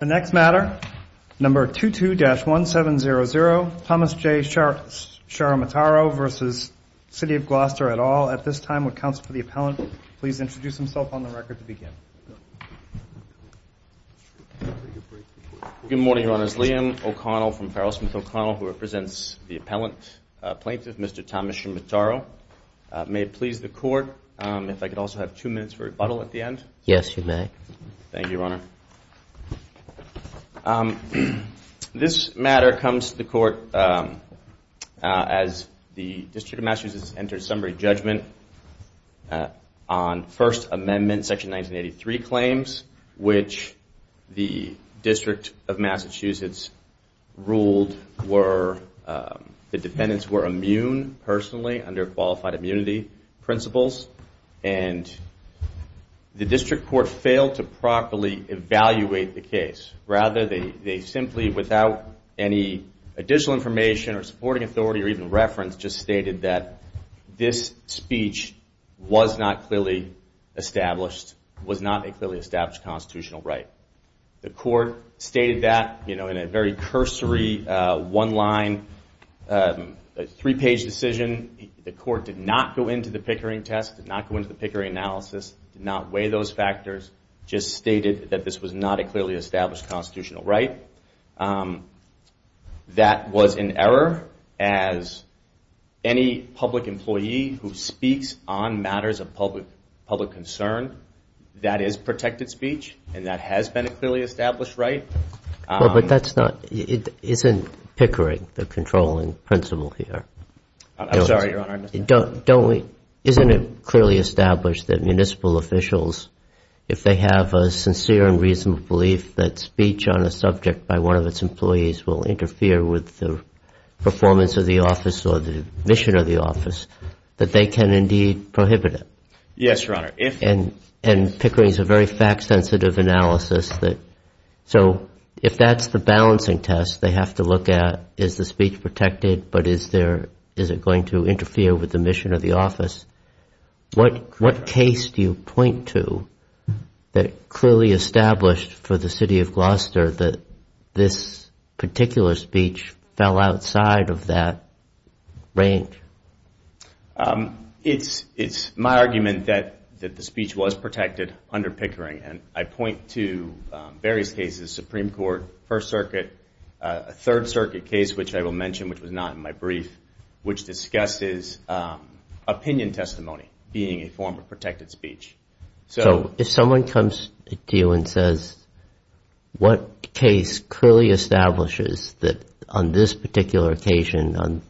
The next matter, number 22-1700, Thomas J. Ciarametaro v. City of Gloucester, et al. At this time, would counsel for the appellant please introduce himself on the record to Good morning, Your Honors, Liam O'Connell from Farrell Smith O'Connell, who represents the appellant plaintiff, Mr. Thomas Ciarametaro. May it please the Court, if I could also have two minutes for rebuttal at the end? Yes, you may. Thank you, Your Honor. Thank you, Your Honor. This matter comes to the Court as the District of Massachusetts enters summary judgment on First Amendment Section 1983 claims, which the District of Massachusetts ruled were, the defendants were immune, personally, under qualified immunity principles. And the District Court failed to properly evaluate the case. Rather, they simply, without any additional information or supporting authority or even reference, just stated that this speech was not clearly established, was not a clearly established constitutional right. The Court stated that in a very cursory, one-line, three-page decision. The Court did not go into the Pickering test, did not go into the Pickering analysis, did not weigh those factors, just stated that this was not a clearly established constitutional right. That was an error, as any public employee who speaks on matters of public concern, that is protected speech, and that has been a clearly established right. Well, but that's not, isn't Pickering the controlling principle here? I'm sorry, Your Honor. Don't we, isn't it clearly established that municipal officials, if they have a sincere and reasonable belief that speech on a subject by one of its employees will interfere with the performance of the office or the mission of the office, that they can indeed prohibit it? Yes, Your Honor. And Pickering is a very fact-sensitive analysis that, so if that's the balancing test they have to look at, is the speech protected, but is it going to interfere with the mission of the office? What case do you point to that clearly established for the city of Gloucester that this particular speech fell outside of that range? It's my argument that the speech was protected under Pickering, and I point to various cases, the Supreme Court, First Circuit, a Third Circuit case, which I will mention, which was not in my brief, which discusses opinion testimony being a form of protected speech. So if someone comes to you and says, what case clearly establishes that on this particular occasion on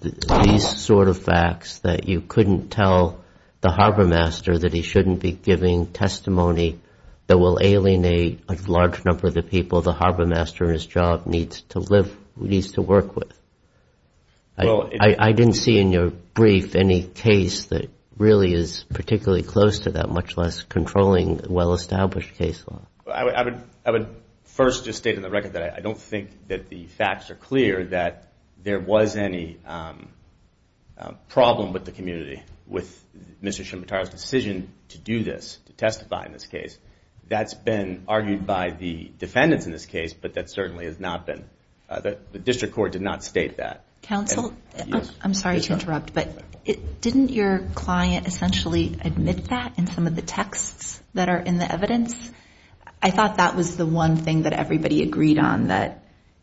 these sort of facts that you couldn't tell the harbormaster that he shouldn't be giving testimony that will alienate a large number of the people the harbormaster in his job needs to work with? I didn't see in your brief any case that really is particularly close to that, much less controlling well-established case law. I would first just state on the record that I don't think that the facts are clear that there was any problem with the community with Mr. Shimabutara's decision to do this, to testify in this case. That's been argued by the defendants in this case, but that certainly has not been, the district court did not state that. Counsel, I'm sorry to interrupt, but didn't your client essentially admit that in some of the texts that are in the evidence? I thought that was the one thing that everybody agreed on, that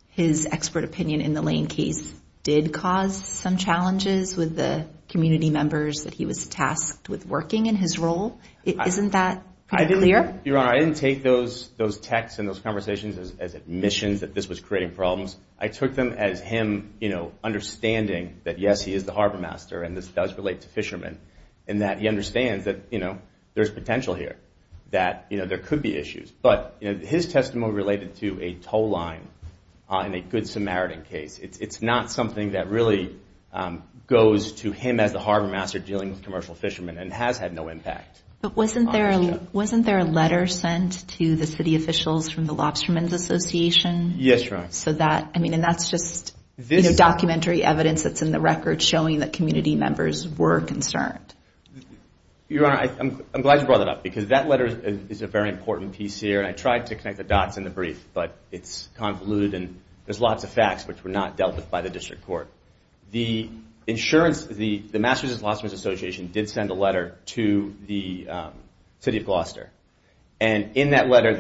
his expert opinion in the Lane case did cause some challenges with the community members that he was tasked with working in his role. Isn't that clear? Your Honor, I didn't take those texts and those conversations as admissions that this was creating problems. I took them as him understanding that, yes, he is the harbormaster and this does relate to fishermen, and that he understands that there's potential here, that there could be issues. But his testimony related to a tow line in a Good Samaritan case, it's not something that really goes to him as the harbormaster dealing with commercial fishermen and has had no impact. But wasn't there a letter sent to the city officials from the Lobstermen's Association? Yes, Your Honor. So that, I mean, and that's just documentary evidence that's in the record showing that community members were concerned. Your Honor, I'm glad you brought that up because that letter is a very important piece here. And I tried to connect the dots in the brief, but it's convoluted and there's lots of facts which were not dealt with by the district court. The insurance, the Masters Lobstermen's Association did send a letter to the city of Gloucester. And in that letter,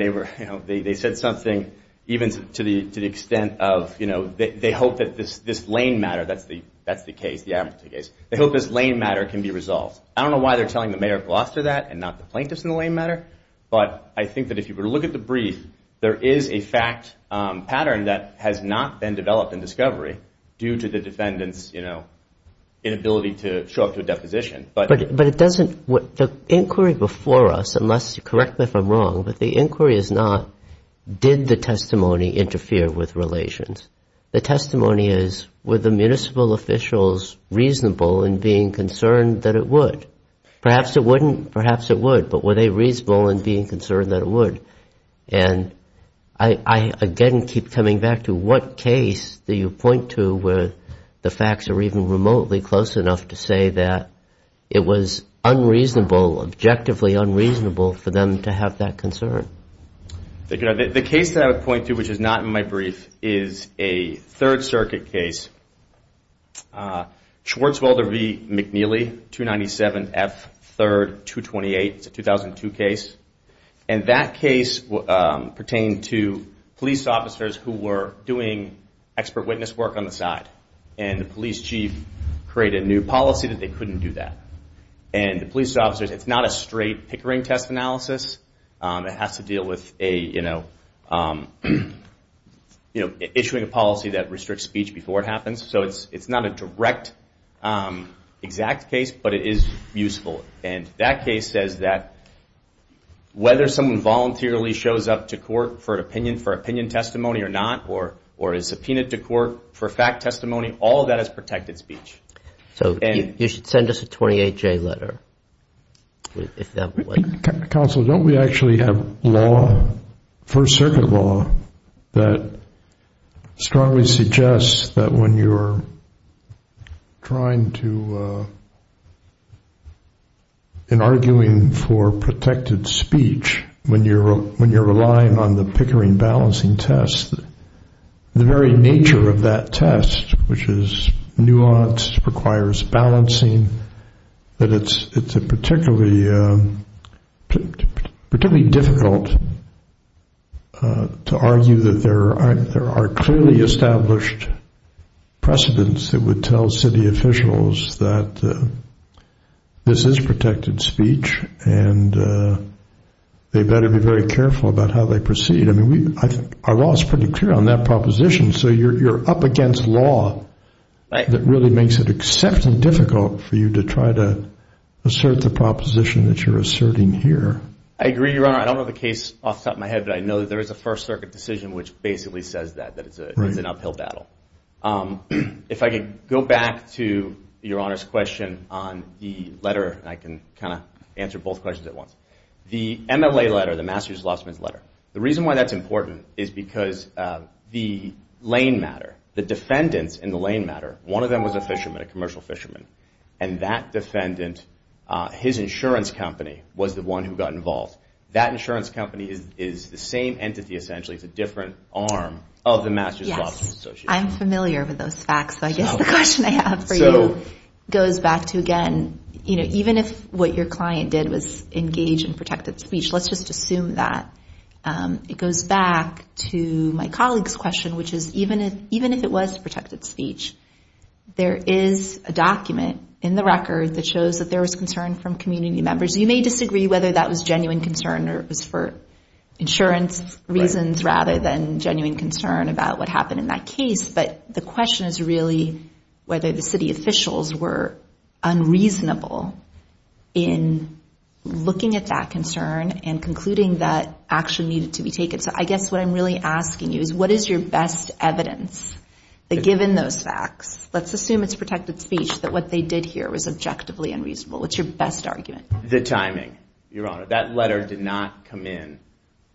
they said something even to the extent of, you know, they hope that this Lane matter, that's the case, they hope this Lane matter can be resolved. I don't know why they're telling the mayor of Gloucester that and not the plaintiffs in the Lane matter. But I think that if you were to look at the brief, there is a fact pattern that has not been developed in discovery due to the defendant's, you know, inability to show up to a deposition. But it doesn't, the inquiry before us, unless you correct me if I'm wrong, but the inquiry is not, did the testimony interfere with relations? The testimony is, were the municipal officials reasonable in being concerned that it would? Perhaps it wouldn't, perhaps it would, but were they reasonable in being concerned that it would? And I again keep coming back to what case do you point to where the facts are even remotely close enough to say that it was unreasonable, objectively unreasonable, for them to have that concern? The case that I would point to, which is not in my brief, is a Third Circuit case, Schwartzwelder v. McNeely, 297F3228, it's a 2002 case. And that case pertained to police officers who were doing expert witness work on the side. And the police chief created a new policy that they couldn't do that. And the police officers, it's not a straight Pickering test analysis. It has to deal with issuing a policy that restricts speech before it happens. So it's not a direct, exact case, but it is useful. And that case says that whether someone voluntarily shows up to court for an opinion, for opinion testimony or not, or is subpoenaed to court for fact testimony, all of that is protected speech. So you should send us a 28-J letter, if that would. Counsel, don't we actually have law, First Circuit law, that strongly suggests that when you're trying to, in arguing for protected speech, when you're relying on the Pickering balancing test, the very nature of that test, which is nuanced, requires balancing, that it's particularly difficult to argue that there are clearly established precedents that would tell city officials that this is protected speech and they better be very careful about how they proceed. I mean, our law is pretty clear on that proposition. So you're up against law that really makes it exceptionally difficult for you to try to assert the proposition that you're asserting here. I agree, Your Honor. I don't know the case off the top of my head, but I know that there is a First Circuit decision which basically says that, that it's an uphill battle. If I could go back to Your Honor's question on the letter, and I can kind of answer both questions at once. The MLA letter, the Master's Lawsuit Letter. The reason why that's important is because the lane matter, the defendants in the lane matter, one of them was a fisherman, a commercial fisherman. And that defendant, his insurance company was the one who got involved. That insurance company is the same entity essentially. It's a different arm of the Master's Lawsuit Association. Yes, I'm familiar with those facts, so I guess the question I have for you goes back to, again, even if what your client did was engage in protected speech, let's just assume that, it goes back to my colleague's question, which is even if it was protected speech, there is a document in the record that shows that there was concern from community members. You may disagree whether that was genuine concern or it was for insurance reasons rather than genuine concern about what happened in that case. But the question is really whether the city officials were unreasonable in looking at that concern and concluding that action needed to be taken. So I guess what I'm really asking you is what is your best evidence that given those facts, let's assume it's protected speech, that what they did here was objectively unreasonable? What's your best argument? The timing, Your Honor. That letter did not come in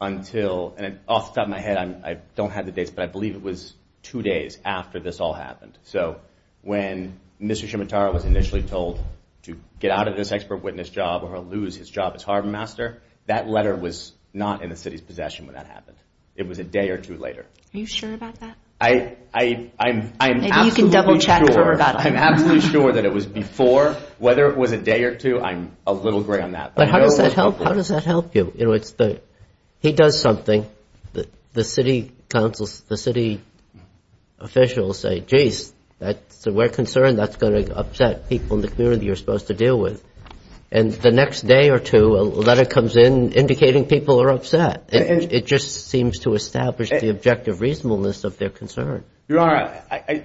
until, and off the top of my head, I don't have the dates, but I believe it was two days after this all happened. So when Mr. Shimitara was initially told to get out of this expert witness job or lose his job as Harbormaster, that letter was not in the city's possession when that happened. It was a day or two later. Are you sure about that? I'm absolutely sure. Maybe you can double-check. I'm absolutely sure that it was before. Whether it was a day or two, I'm a little gray on that. But how does that help? How does that help you? He does something. The city officials say, geez, we're concerned that's going to upset people in the community you're supposed to deal with. And the next day or two, a letter comes in indicating people are upset. It just seems to establish the objective reasonableness of their concern. Your Honor,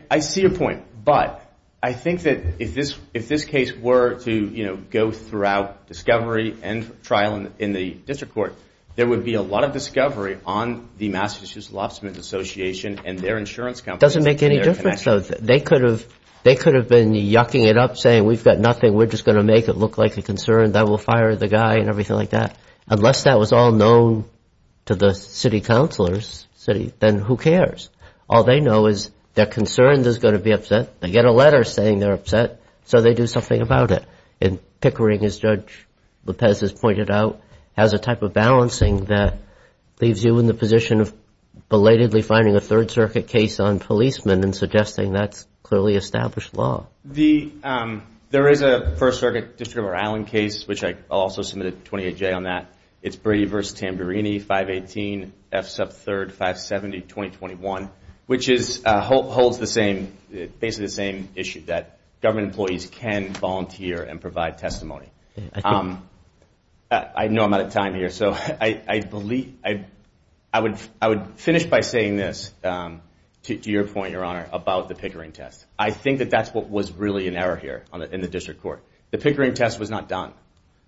I see your point. But I think that if this case were to go throughout discovery and trial in the district court, there would be a lot of discovery on the Massachusetts Lobstermen Association and their insurance companies. It doesn't make any difference, though. They could have been yucking it up, saying we've got nothing, we're just going to make it look like a concern, that we'll fire the guy and everything like that. Unless that was all known to the city councilors, then who cares? All they know is their concern is going to be upset. They get a letter saying they're upset, so they do something about it. And pickering, as Judge Lopez has pointed out, has a type of balancing that leaves you in the position of belatedly finding a Third Circuit case on policemen and suggesting that's clearly established law. There is a First Circuit District of Rhode Island case, which I also submitted a 28-J on that. It's Brady v. Tamburini, 518F sub 3rd, 570, 2021, which holds basically the same issue, that government employees can volunteer and provide testimony. I know I'm out of time here, so I would finish by saying this, to your point, Your Honor, about the pickering test. I think that that's what was really an error here in the district court. The pickering test was not done.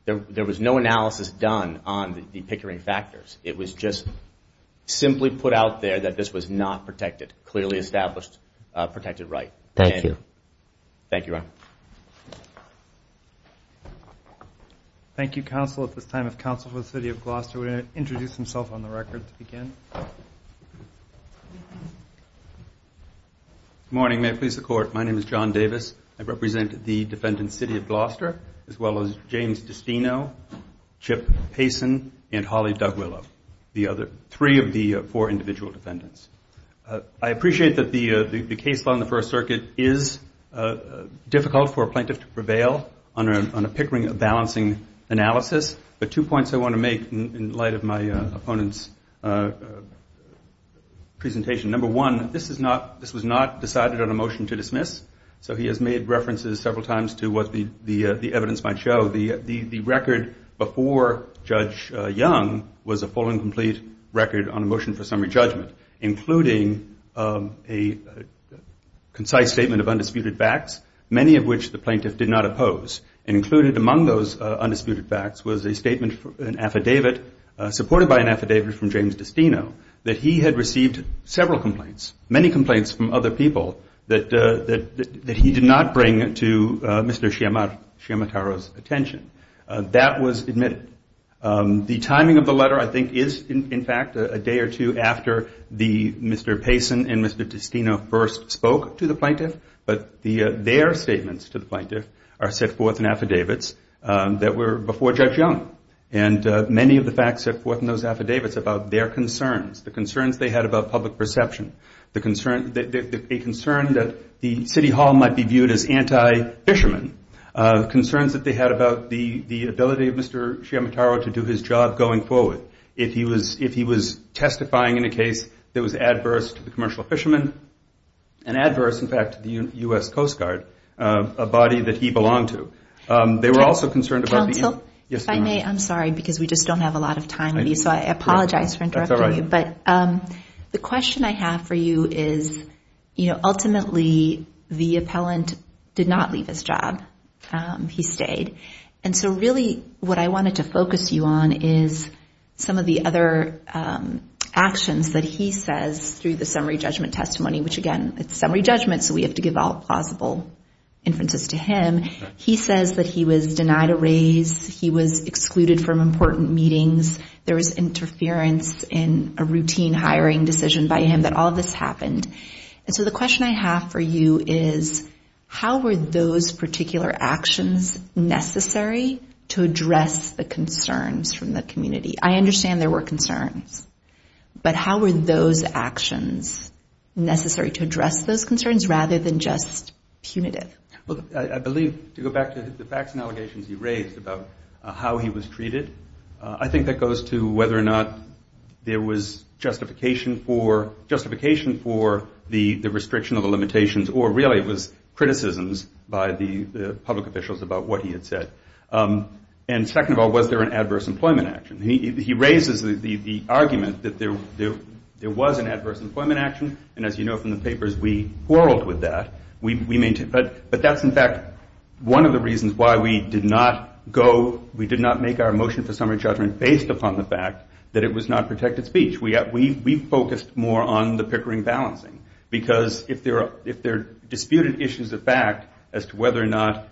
There was no analysis done on the pickering factors. It was just simply put out there that this was not protected, clearly established protected right. Thank you. Thank you, Your Honor. Thank you, counsel. At this time, if counsel for the City of Gloucester would introduce himself on the record to begin. Good morning. May it please the Court. My name is John Davis. I represent the defendant's City of Gloucester, as well as James Destino, Chip Payson, and Holly Dugwillow, three of the four individual defendants. I appreciate that the case law in the First Circuit is difficult for a plaintiff to prevail on a pickering balancing analysis, but two points I want to make in light of my opponent's presentation. Number one, this was not decided on a motion to dismiss, so he has made references several times to what the evidence might show. The record before Judge Young was a full and complete record on a motion for summary judgment, including a concise statement of undisputed facts, many of which the plaintiff did not oppose. Included among those undisputed facts was a statement, an affidavit, supported by an affidavit from James Destino, that he had received several complaints, many complaints from other people, that he did not bring to Mr. Sciamattaro's attention. That was admitted. The timing of the letter, I think, is, in fact, a day or two after Mr. Payson and Mr. Destino first spoke to the plaintiff, but their statements to the plaintiff are set forth in affidavits that were before Judge Young, and many of the facts set forth in those affidavits about their concerns, the concerns they had about public perception, a concern that the city hall might be viewed as anti-fisherman, concerns that they had about the ability of Mr. Sciamattaro to do his job going forward if he was testifying in a case that was adverse to the commercial fishermen and adverse, in fact, to the U.S. Coast Guard, a body that he belonged to. Counsel, if I may, I'm sorry, because we just don't have a lot of time with you, so I apologize for interrupting you, but the question I have for you is, ultimately, the appellant did not leave his job. He stayed, and so really what I wanted to focus you on is some of the other actions that he says through the summary judgment testimony, which, again, it's a summary judgment, so we have to give all plausible inferences to him. He says that he was denied a raise, he was excluded from important meetings, there was interference in a routine hiring decision by him, that all this happened, and so the question I have for you is, how were those particular actions necessary to address the concerns from the community? I understand there were concerns, but how were those actions necessary to address those concerns rather than just punitive? I believe, to go back to the facts and allegations he raised about how he was treated, I think that goes to whether or not there was justification for the restriction of the limitations or really it was criticisms by the public officials about what he had said. And second of all, was there an adverse employment action? He raises the argument that there was an adverse employment action, and as you know from the papers, we quarreled with that. But that's, in fact, one of the reasons why we did not make our motion for summary judgment based upon the fact that it was not protected speech. We focused more on the Pickering balancing, because if there are disputed issues of fact as to whether or not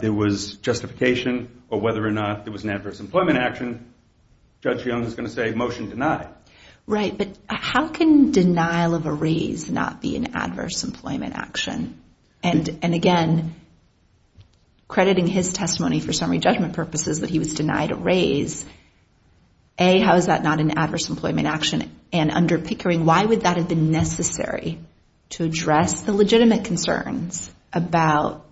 there was justification or whether or not there was an adverse employment action, Judge Jones is going to say, motion denied. Right, but how can denial of a raise not be an adverse employment action? And again, crediting his testimony for summary judgment purposes that he was denied a raise, A, how is that not an adverse employment action? And under Pickering, why would that have been necessary to address the legitimate concerns about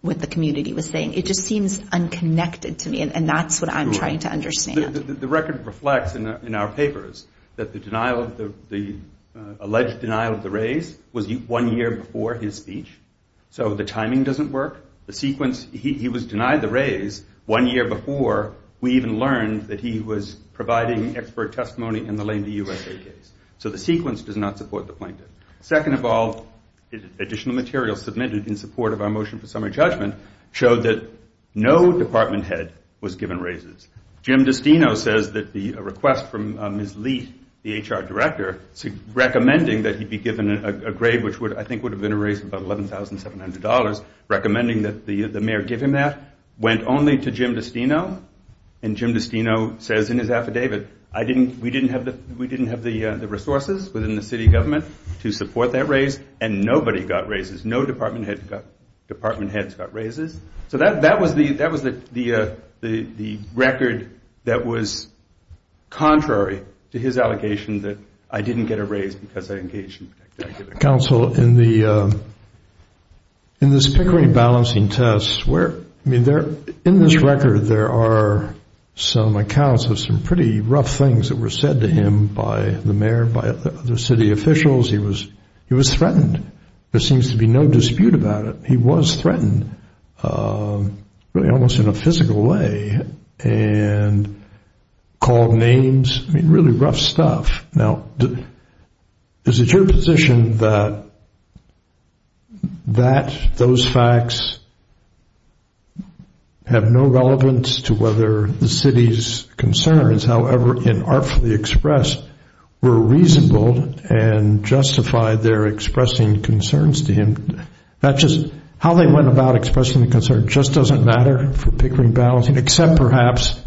what the community was saying? It just seems unconnected to me, and that's what I'm trying to understand. The record reflects in our papers that the alleged denial of the raise was one year before his speech, so the timing doesn't work. He was denied the raise one year before we even learned that he was providing expert testimony in the Lame D. USA case, so the sequence does not support the plaintiff. Second of all, additional material submitted in support of our motion for summary judgment showed that no department head was given raises. Jim Destino says that the request from Ms. Lee, the HR director, recommending that he be given a grade which I think would have been a raise of about $11,700, recommending that the mayor give him that, went only to Jim Destino, and Jim Destino says in his affidavit, we didn't have the resources within the city government to support that raise, and nobody got raises. No department heads got raises. So that was the record that was contrary to his allegation that I didn't get a raise because I engaged in protective activities. Counsel, in this Pickering balancing test, in this record there are some accounts of some pretty rough things that were said to him by the mayor, by other city officials. He was threatened. There seems to be no dispute about it. He was threatened, really almost in a physical way, and called names. I mean, really rough stuff. Now, is it your position that those facts have no relevance to whether the city's concerns, however inartfully expressed, were reasonable and justified their expressing concerns to him? How they went about expressing the concern just doesn't matter for Pickering balancing, except perhaps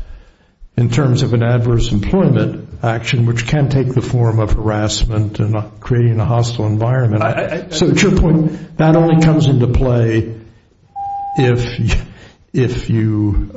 in terms of an adverse employment action, which can take the form of harassment and creating a hostile environment. So to your point, that only comes into play if you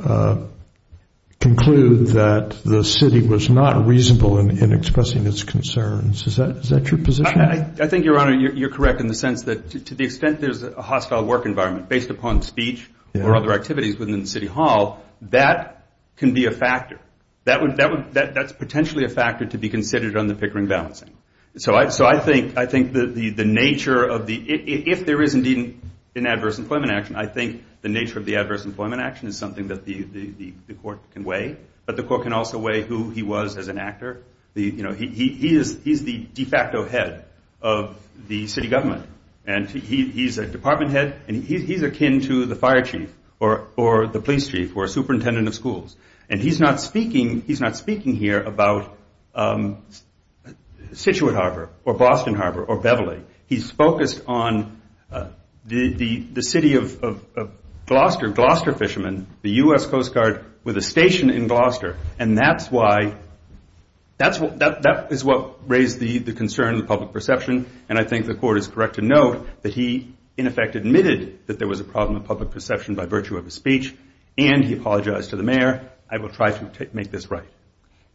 conclude that the city was not reasonable in expressing its concerns. Is that your position? I think, Your Honor, you're correct in the sense that to the extent there's a hostile work environment based upon speech or other activities within the city hall, that can be a factor. That's potentially a factor to be considered on the Pickering balancing. So I think the nature of the—if there is indeed an adverse employment action, I think the nature of the adverse employment action is something that the court can weigh, but the court can also weigh who he was as an actor. He's the de facto head of the city government, and he's a department head, and he's akin to the fire chief or the police chief or superintendent of schools. And he's not speaking here about Scituate Harbor or Boston Harbor or Beverly. He's focused on the city of Gloucester, Gloucester fishermen, and that's why—that is what raised the concern of the public perception, and I think the court is correct to note that he, in effect, admitted that there was a problem of public perception by virtue of his speech, and he apologized to the mayor. I will try to make this right.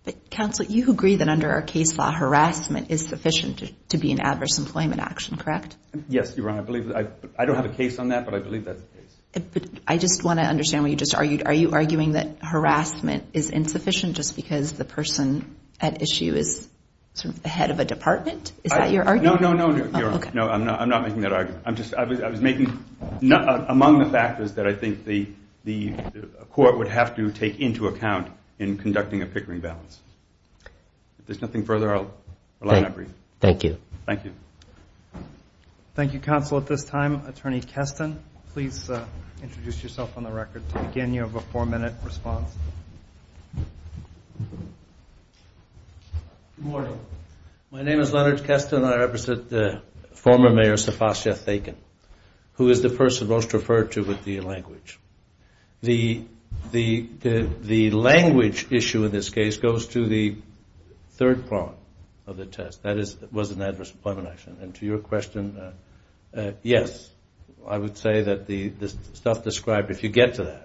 But, Counsel, you agree that under our case law, harassment is sufficient to be an adverse employment action, correct? Yes, Your Honor, I believe that. I don't have a case on that, but I believe that's the case. But I just want to understand what you just argued. Are you arguing that harassment is insufficient just because the person at issue is sort of the head of a department? Is that your argument? No, no, no, no, Your Honor. No, I'm not making that argument. I'm just—I was making—among the factors that I think the court would have to take into account in conducting a Pickering balance. If there's nothing further, I'll allow that brief. Thank you. Thank you. Thank you, Counsel. At this time, Attorney Keston, please introduce yourself on the record. Again, you have a four-minute response. Good morning. My name is Leonard Keston. I represent the former mayor, Sefasyah Thaken, who is the person most referred to with the language. The language issue in this case goes to the third prong of the test. That was an adverse employment action. And to your question, yes, I would say that the stuff described, if you get to that,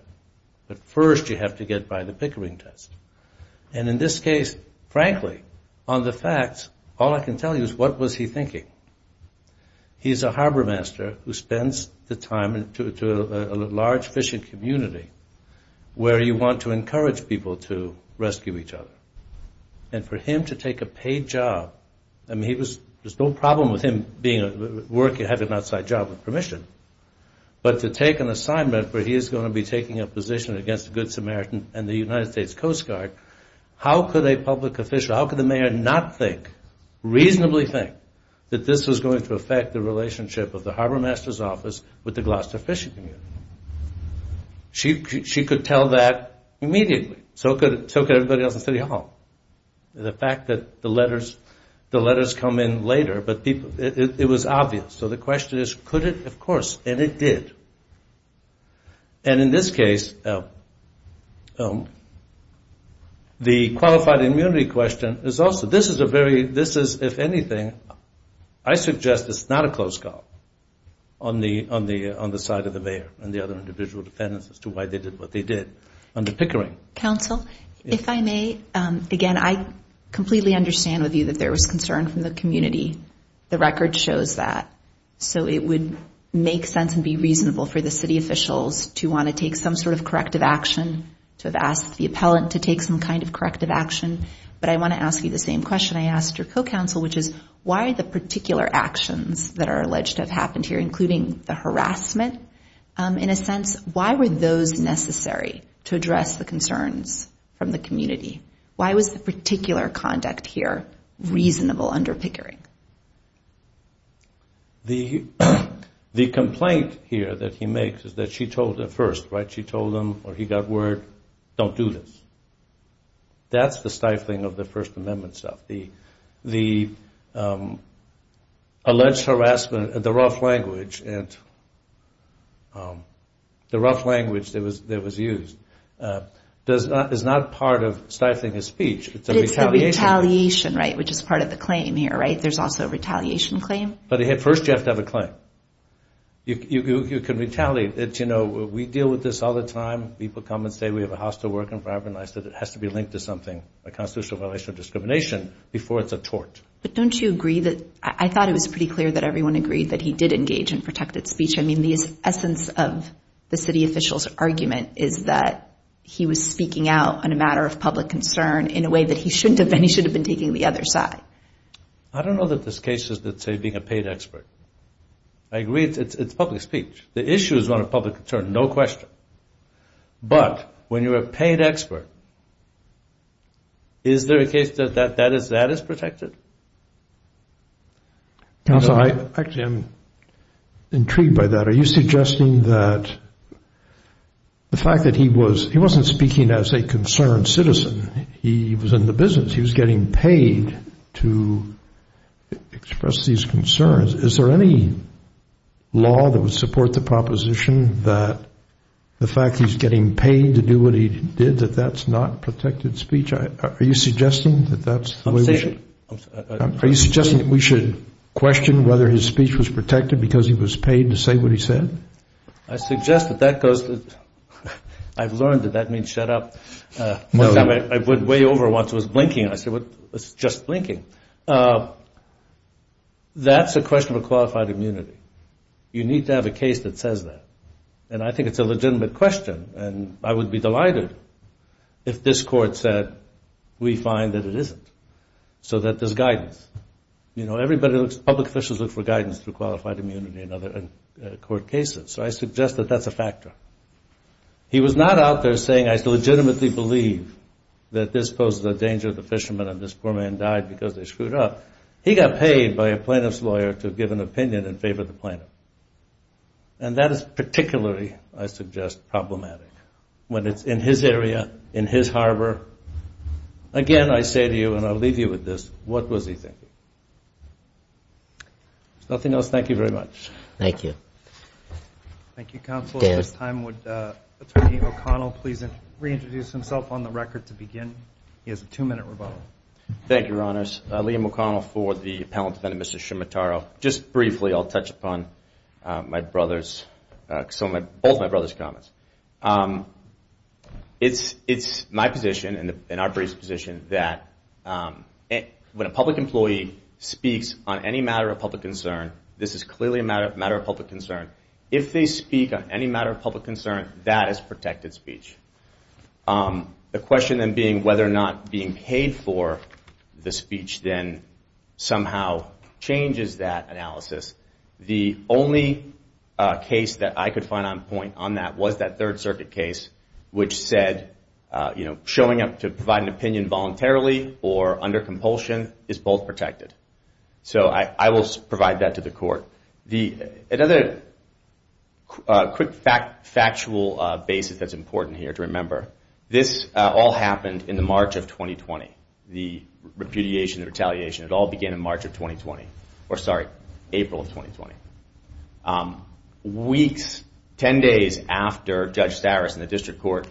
but first you have to get by the Pickering test. And in this case, frankly, on the facts, all I can tell you is what was he thinking. He's a harbormaster who spends the time in a large fishing community where you want to encourage people to rescue each other. And for him to take a paid job, I mean, there's no problem with him having an outside job with permission, but to take an assignment where he is going to be taking a position against the Good Samaritan and the United States Coast Guard, how could a public official, how could the mayor not think, reasonably think, that this was going to affect the relationship of the harbormaster's office with the Gloucester fishing community? She could tell that immediately. So could everybody else in City Hall. The fact that the letters come in later, but it was obvious. So the question is, could it? Of course. And it did. And in this case, the qualified immunity question is also, this is a very, this is, if anything, I suggest it's not a close call on the side of the mayor and the other individual defendants as to why they did what they did under Pickering. Counsel, if I may, again, I completely understand with you that there was concern from the community. The record shows that. So it would make sense and be reasonable for the city officials to want to take some sort of corrective action, to have asked the appellant to take some kind of corrective action. But I want to ask you the same question I asked your co-counsel, which is why the particular actions that are alleged to have happened here, including the harassment, in a sense, why were those necessary to address the concerns from the community? Why was the particular conduct here reasonable under Pickering? The complaint here that he makes is that she told him first, right? She told him or he got word, don't do this. That's the stifling of the First Amendment stuff. The alleged harassment, the rough language that was used is not part of stifling his speech. But it's the retaliation, right, which is part of the claim here, right? There's also a retaliation claim. But first you have to have a claim. You can retaliate. We deal with this all the time. People come and say we have a hostile work environment, and I said it has to be linked to something, a constitutional violation of discrimination, before it's a tort. But don't you agree that – I thought it was pretty clear that everyone agreed that he did engage in protected speech. I mean, the essence of the city official's argument is that he was speaking out on a matter of public concern in a way that he shouldn't have been. He should have been taking the other side. I don't know that this case is, let's say, being a paid expert. I agree it's public speech. The issue is not a public concern, no question. But when you're a paid expert, is there a case that that is protected? Actually, I'm intrigued by that. Are you suggesting that the fact that he was – he wasn't speaking as a concerned citizen. He was in the business. He was getting paid to express these concerns. Is there any law that would support the proposition that the fact he's getting paid to do what he did, that that's not protected speech? Are you suggesting that that's the way we should – I'm saying – Are you suggesting that we should question whether his speech was protected because he was paid to say what he said? I suggest that that goes – I've learned that that means shut up. One time I went way over once and was blinking. I said, well, it's just blinking. That's a question of a qualified immunity. You need to have a case that says that. And I think it's a legitimate question. And I would be delighted if this court said, we find that it isn't, so that there's guidance. You know, everybody looks – public officials look for guidance through qualified immunity in court cases. So I suggest that that's a factor. He was not out there saying, I legitimately believe that this poses a danger to the fishermen and this poor man died because they screwed up. He got paid by a plaintiff's lawyer to give an opinion in favor of the plaintiff. And that is particularly, I suggest, problematic when it's in his area, in his harbor. Again, I say to you, and I'll leave you with this, what was he thinking? If there's nothing else, thank you very much. Thank you. Thank you, Counsel. At this time, would Attorney O'Connell please reintroduce himself on the record to begin? He has a two-minute rebuttal. Thank you, Your Honors. Liam O'Connell for the Appellant Defendant, Mr. Scimitaro. Just briefly, I'll touch upon both my brother's comments. It's my position and our brief's position that when a public employee speaks on any matter of public concern, this is clearly a matter of public concern. If they speak on any matter of public concern, that is protected speech. The question then being whether or not being paid for the speech then somehow changes that analysis. The only case that I could find on point on that was that Third Circuit case, which said showing up to provide an opinion voluntarily or under compulsion is both protected. So I will provide that to the Court. Another quick factual basis that's important here to remember, this all happened in the March of 2020. The repudiation, the retaliation, it all began in March of 2020. Or sorry, April of 2020. Weeks, 10 days after Judge Saris and the District Court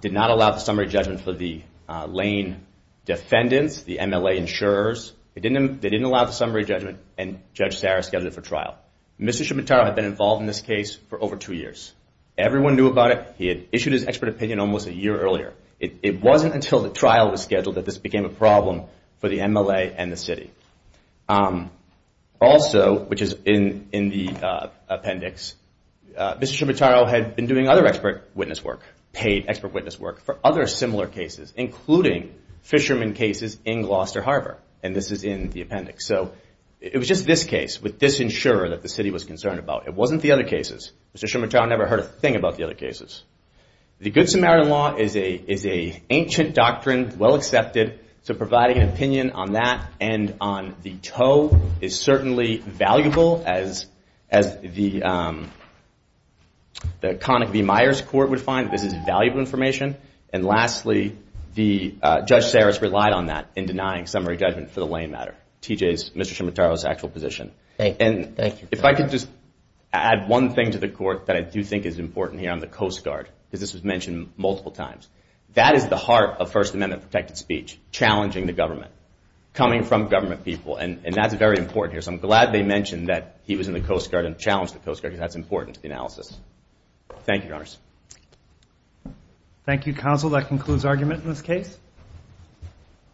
did not allow the summary judgment for the Lane defendants, the MLA insurers, they didn't allow the summary judgment and Judge Saris scheduled it for trial. Mr. Scimitaro had been involved in this case for over two years. Everyone knew about it. He had issued his expert opinion almost a year earlier. It wasn't until the trial was scheduled that this became a problem for the MLA and the city. Also, which is in the appendix, Mr. Scimitaro had been doing other expert witness work, paid expert witness work for other similar cases, including fishermen cases in Gloucester Harbor. And this is in the appendix. So it was just this case with this insurer that the city was concerned about. It wasn't the other cases. Mr. Scimitaro never heard a thing about the other cases. The Good Samaritan Law is an ancient doctrine, well accepted, so providing an opinion on that and on the tow is certainly valuable, as the Connick v. Myers court would find, this is valuable information. And lastly, Judge Saris relied on that in denying summary judgment for the Lane matter, TJ's, Mr. Scimitaro's actual position. And if I could just add one thing to the court that I do think is important here on the Coast Guard, because this was mentioned multiple times, that is the heart of First Amendment protected speech, challenging the government, coming from government people, and that's very important here. So I'm glad they mentioned that he was in the Coast Guard and challenged the Coast Guard, because that's important to the analysis. Thank you, Your Honors. Thank you, Counsel. That concludes argument in this case.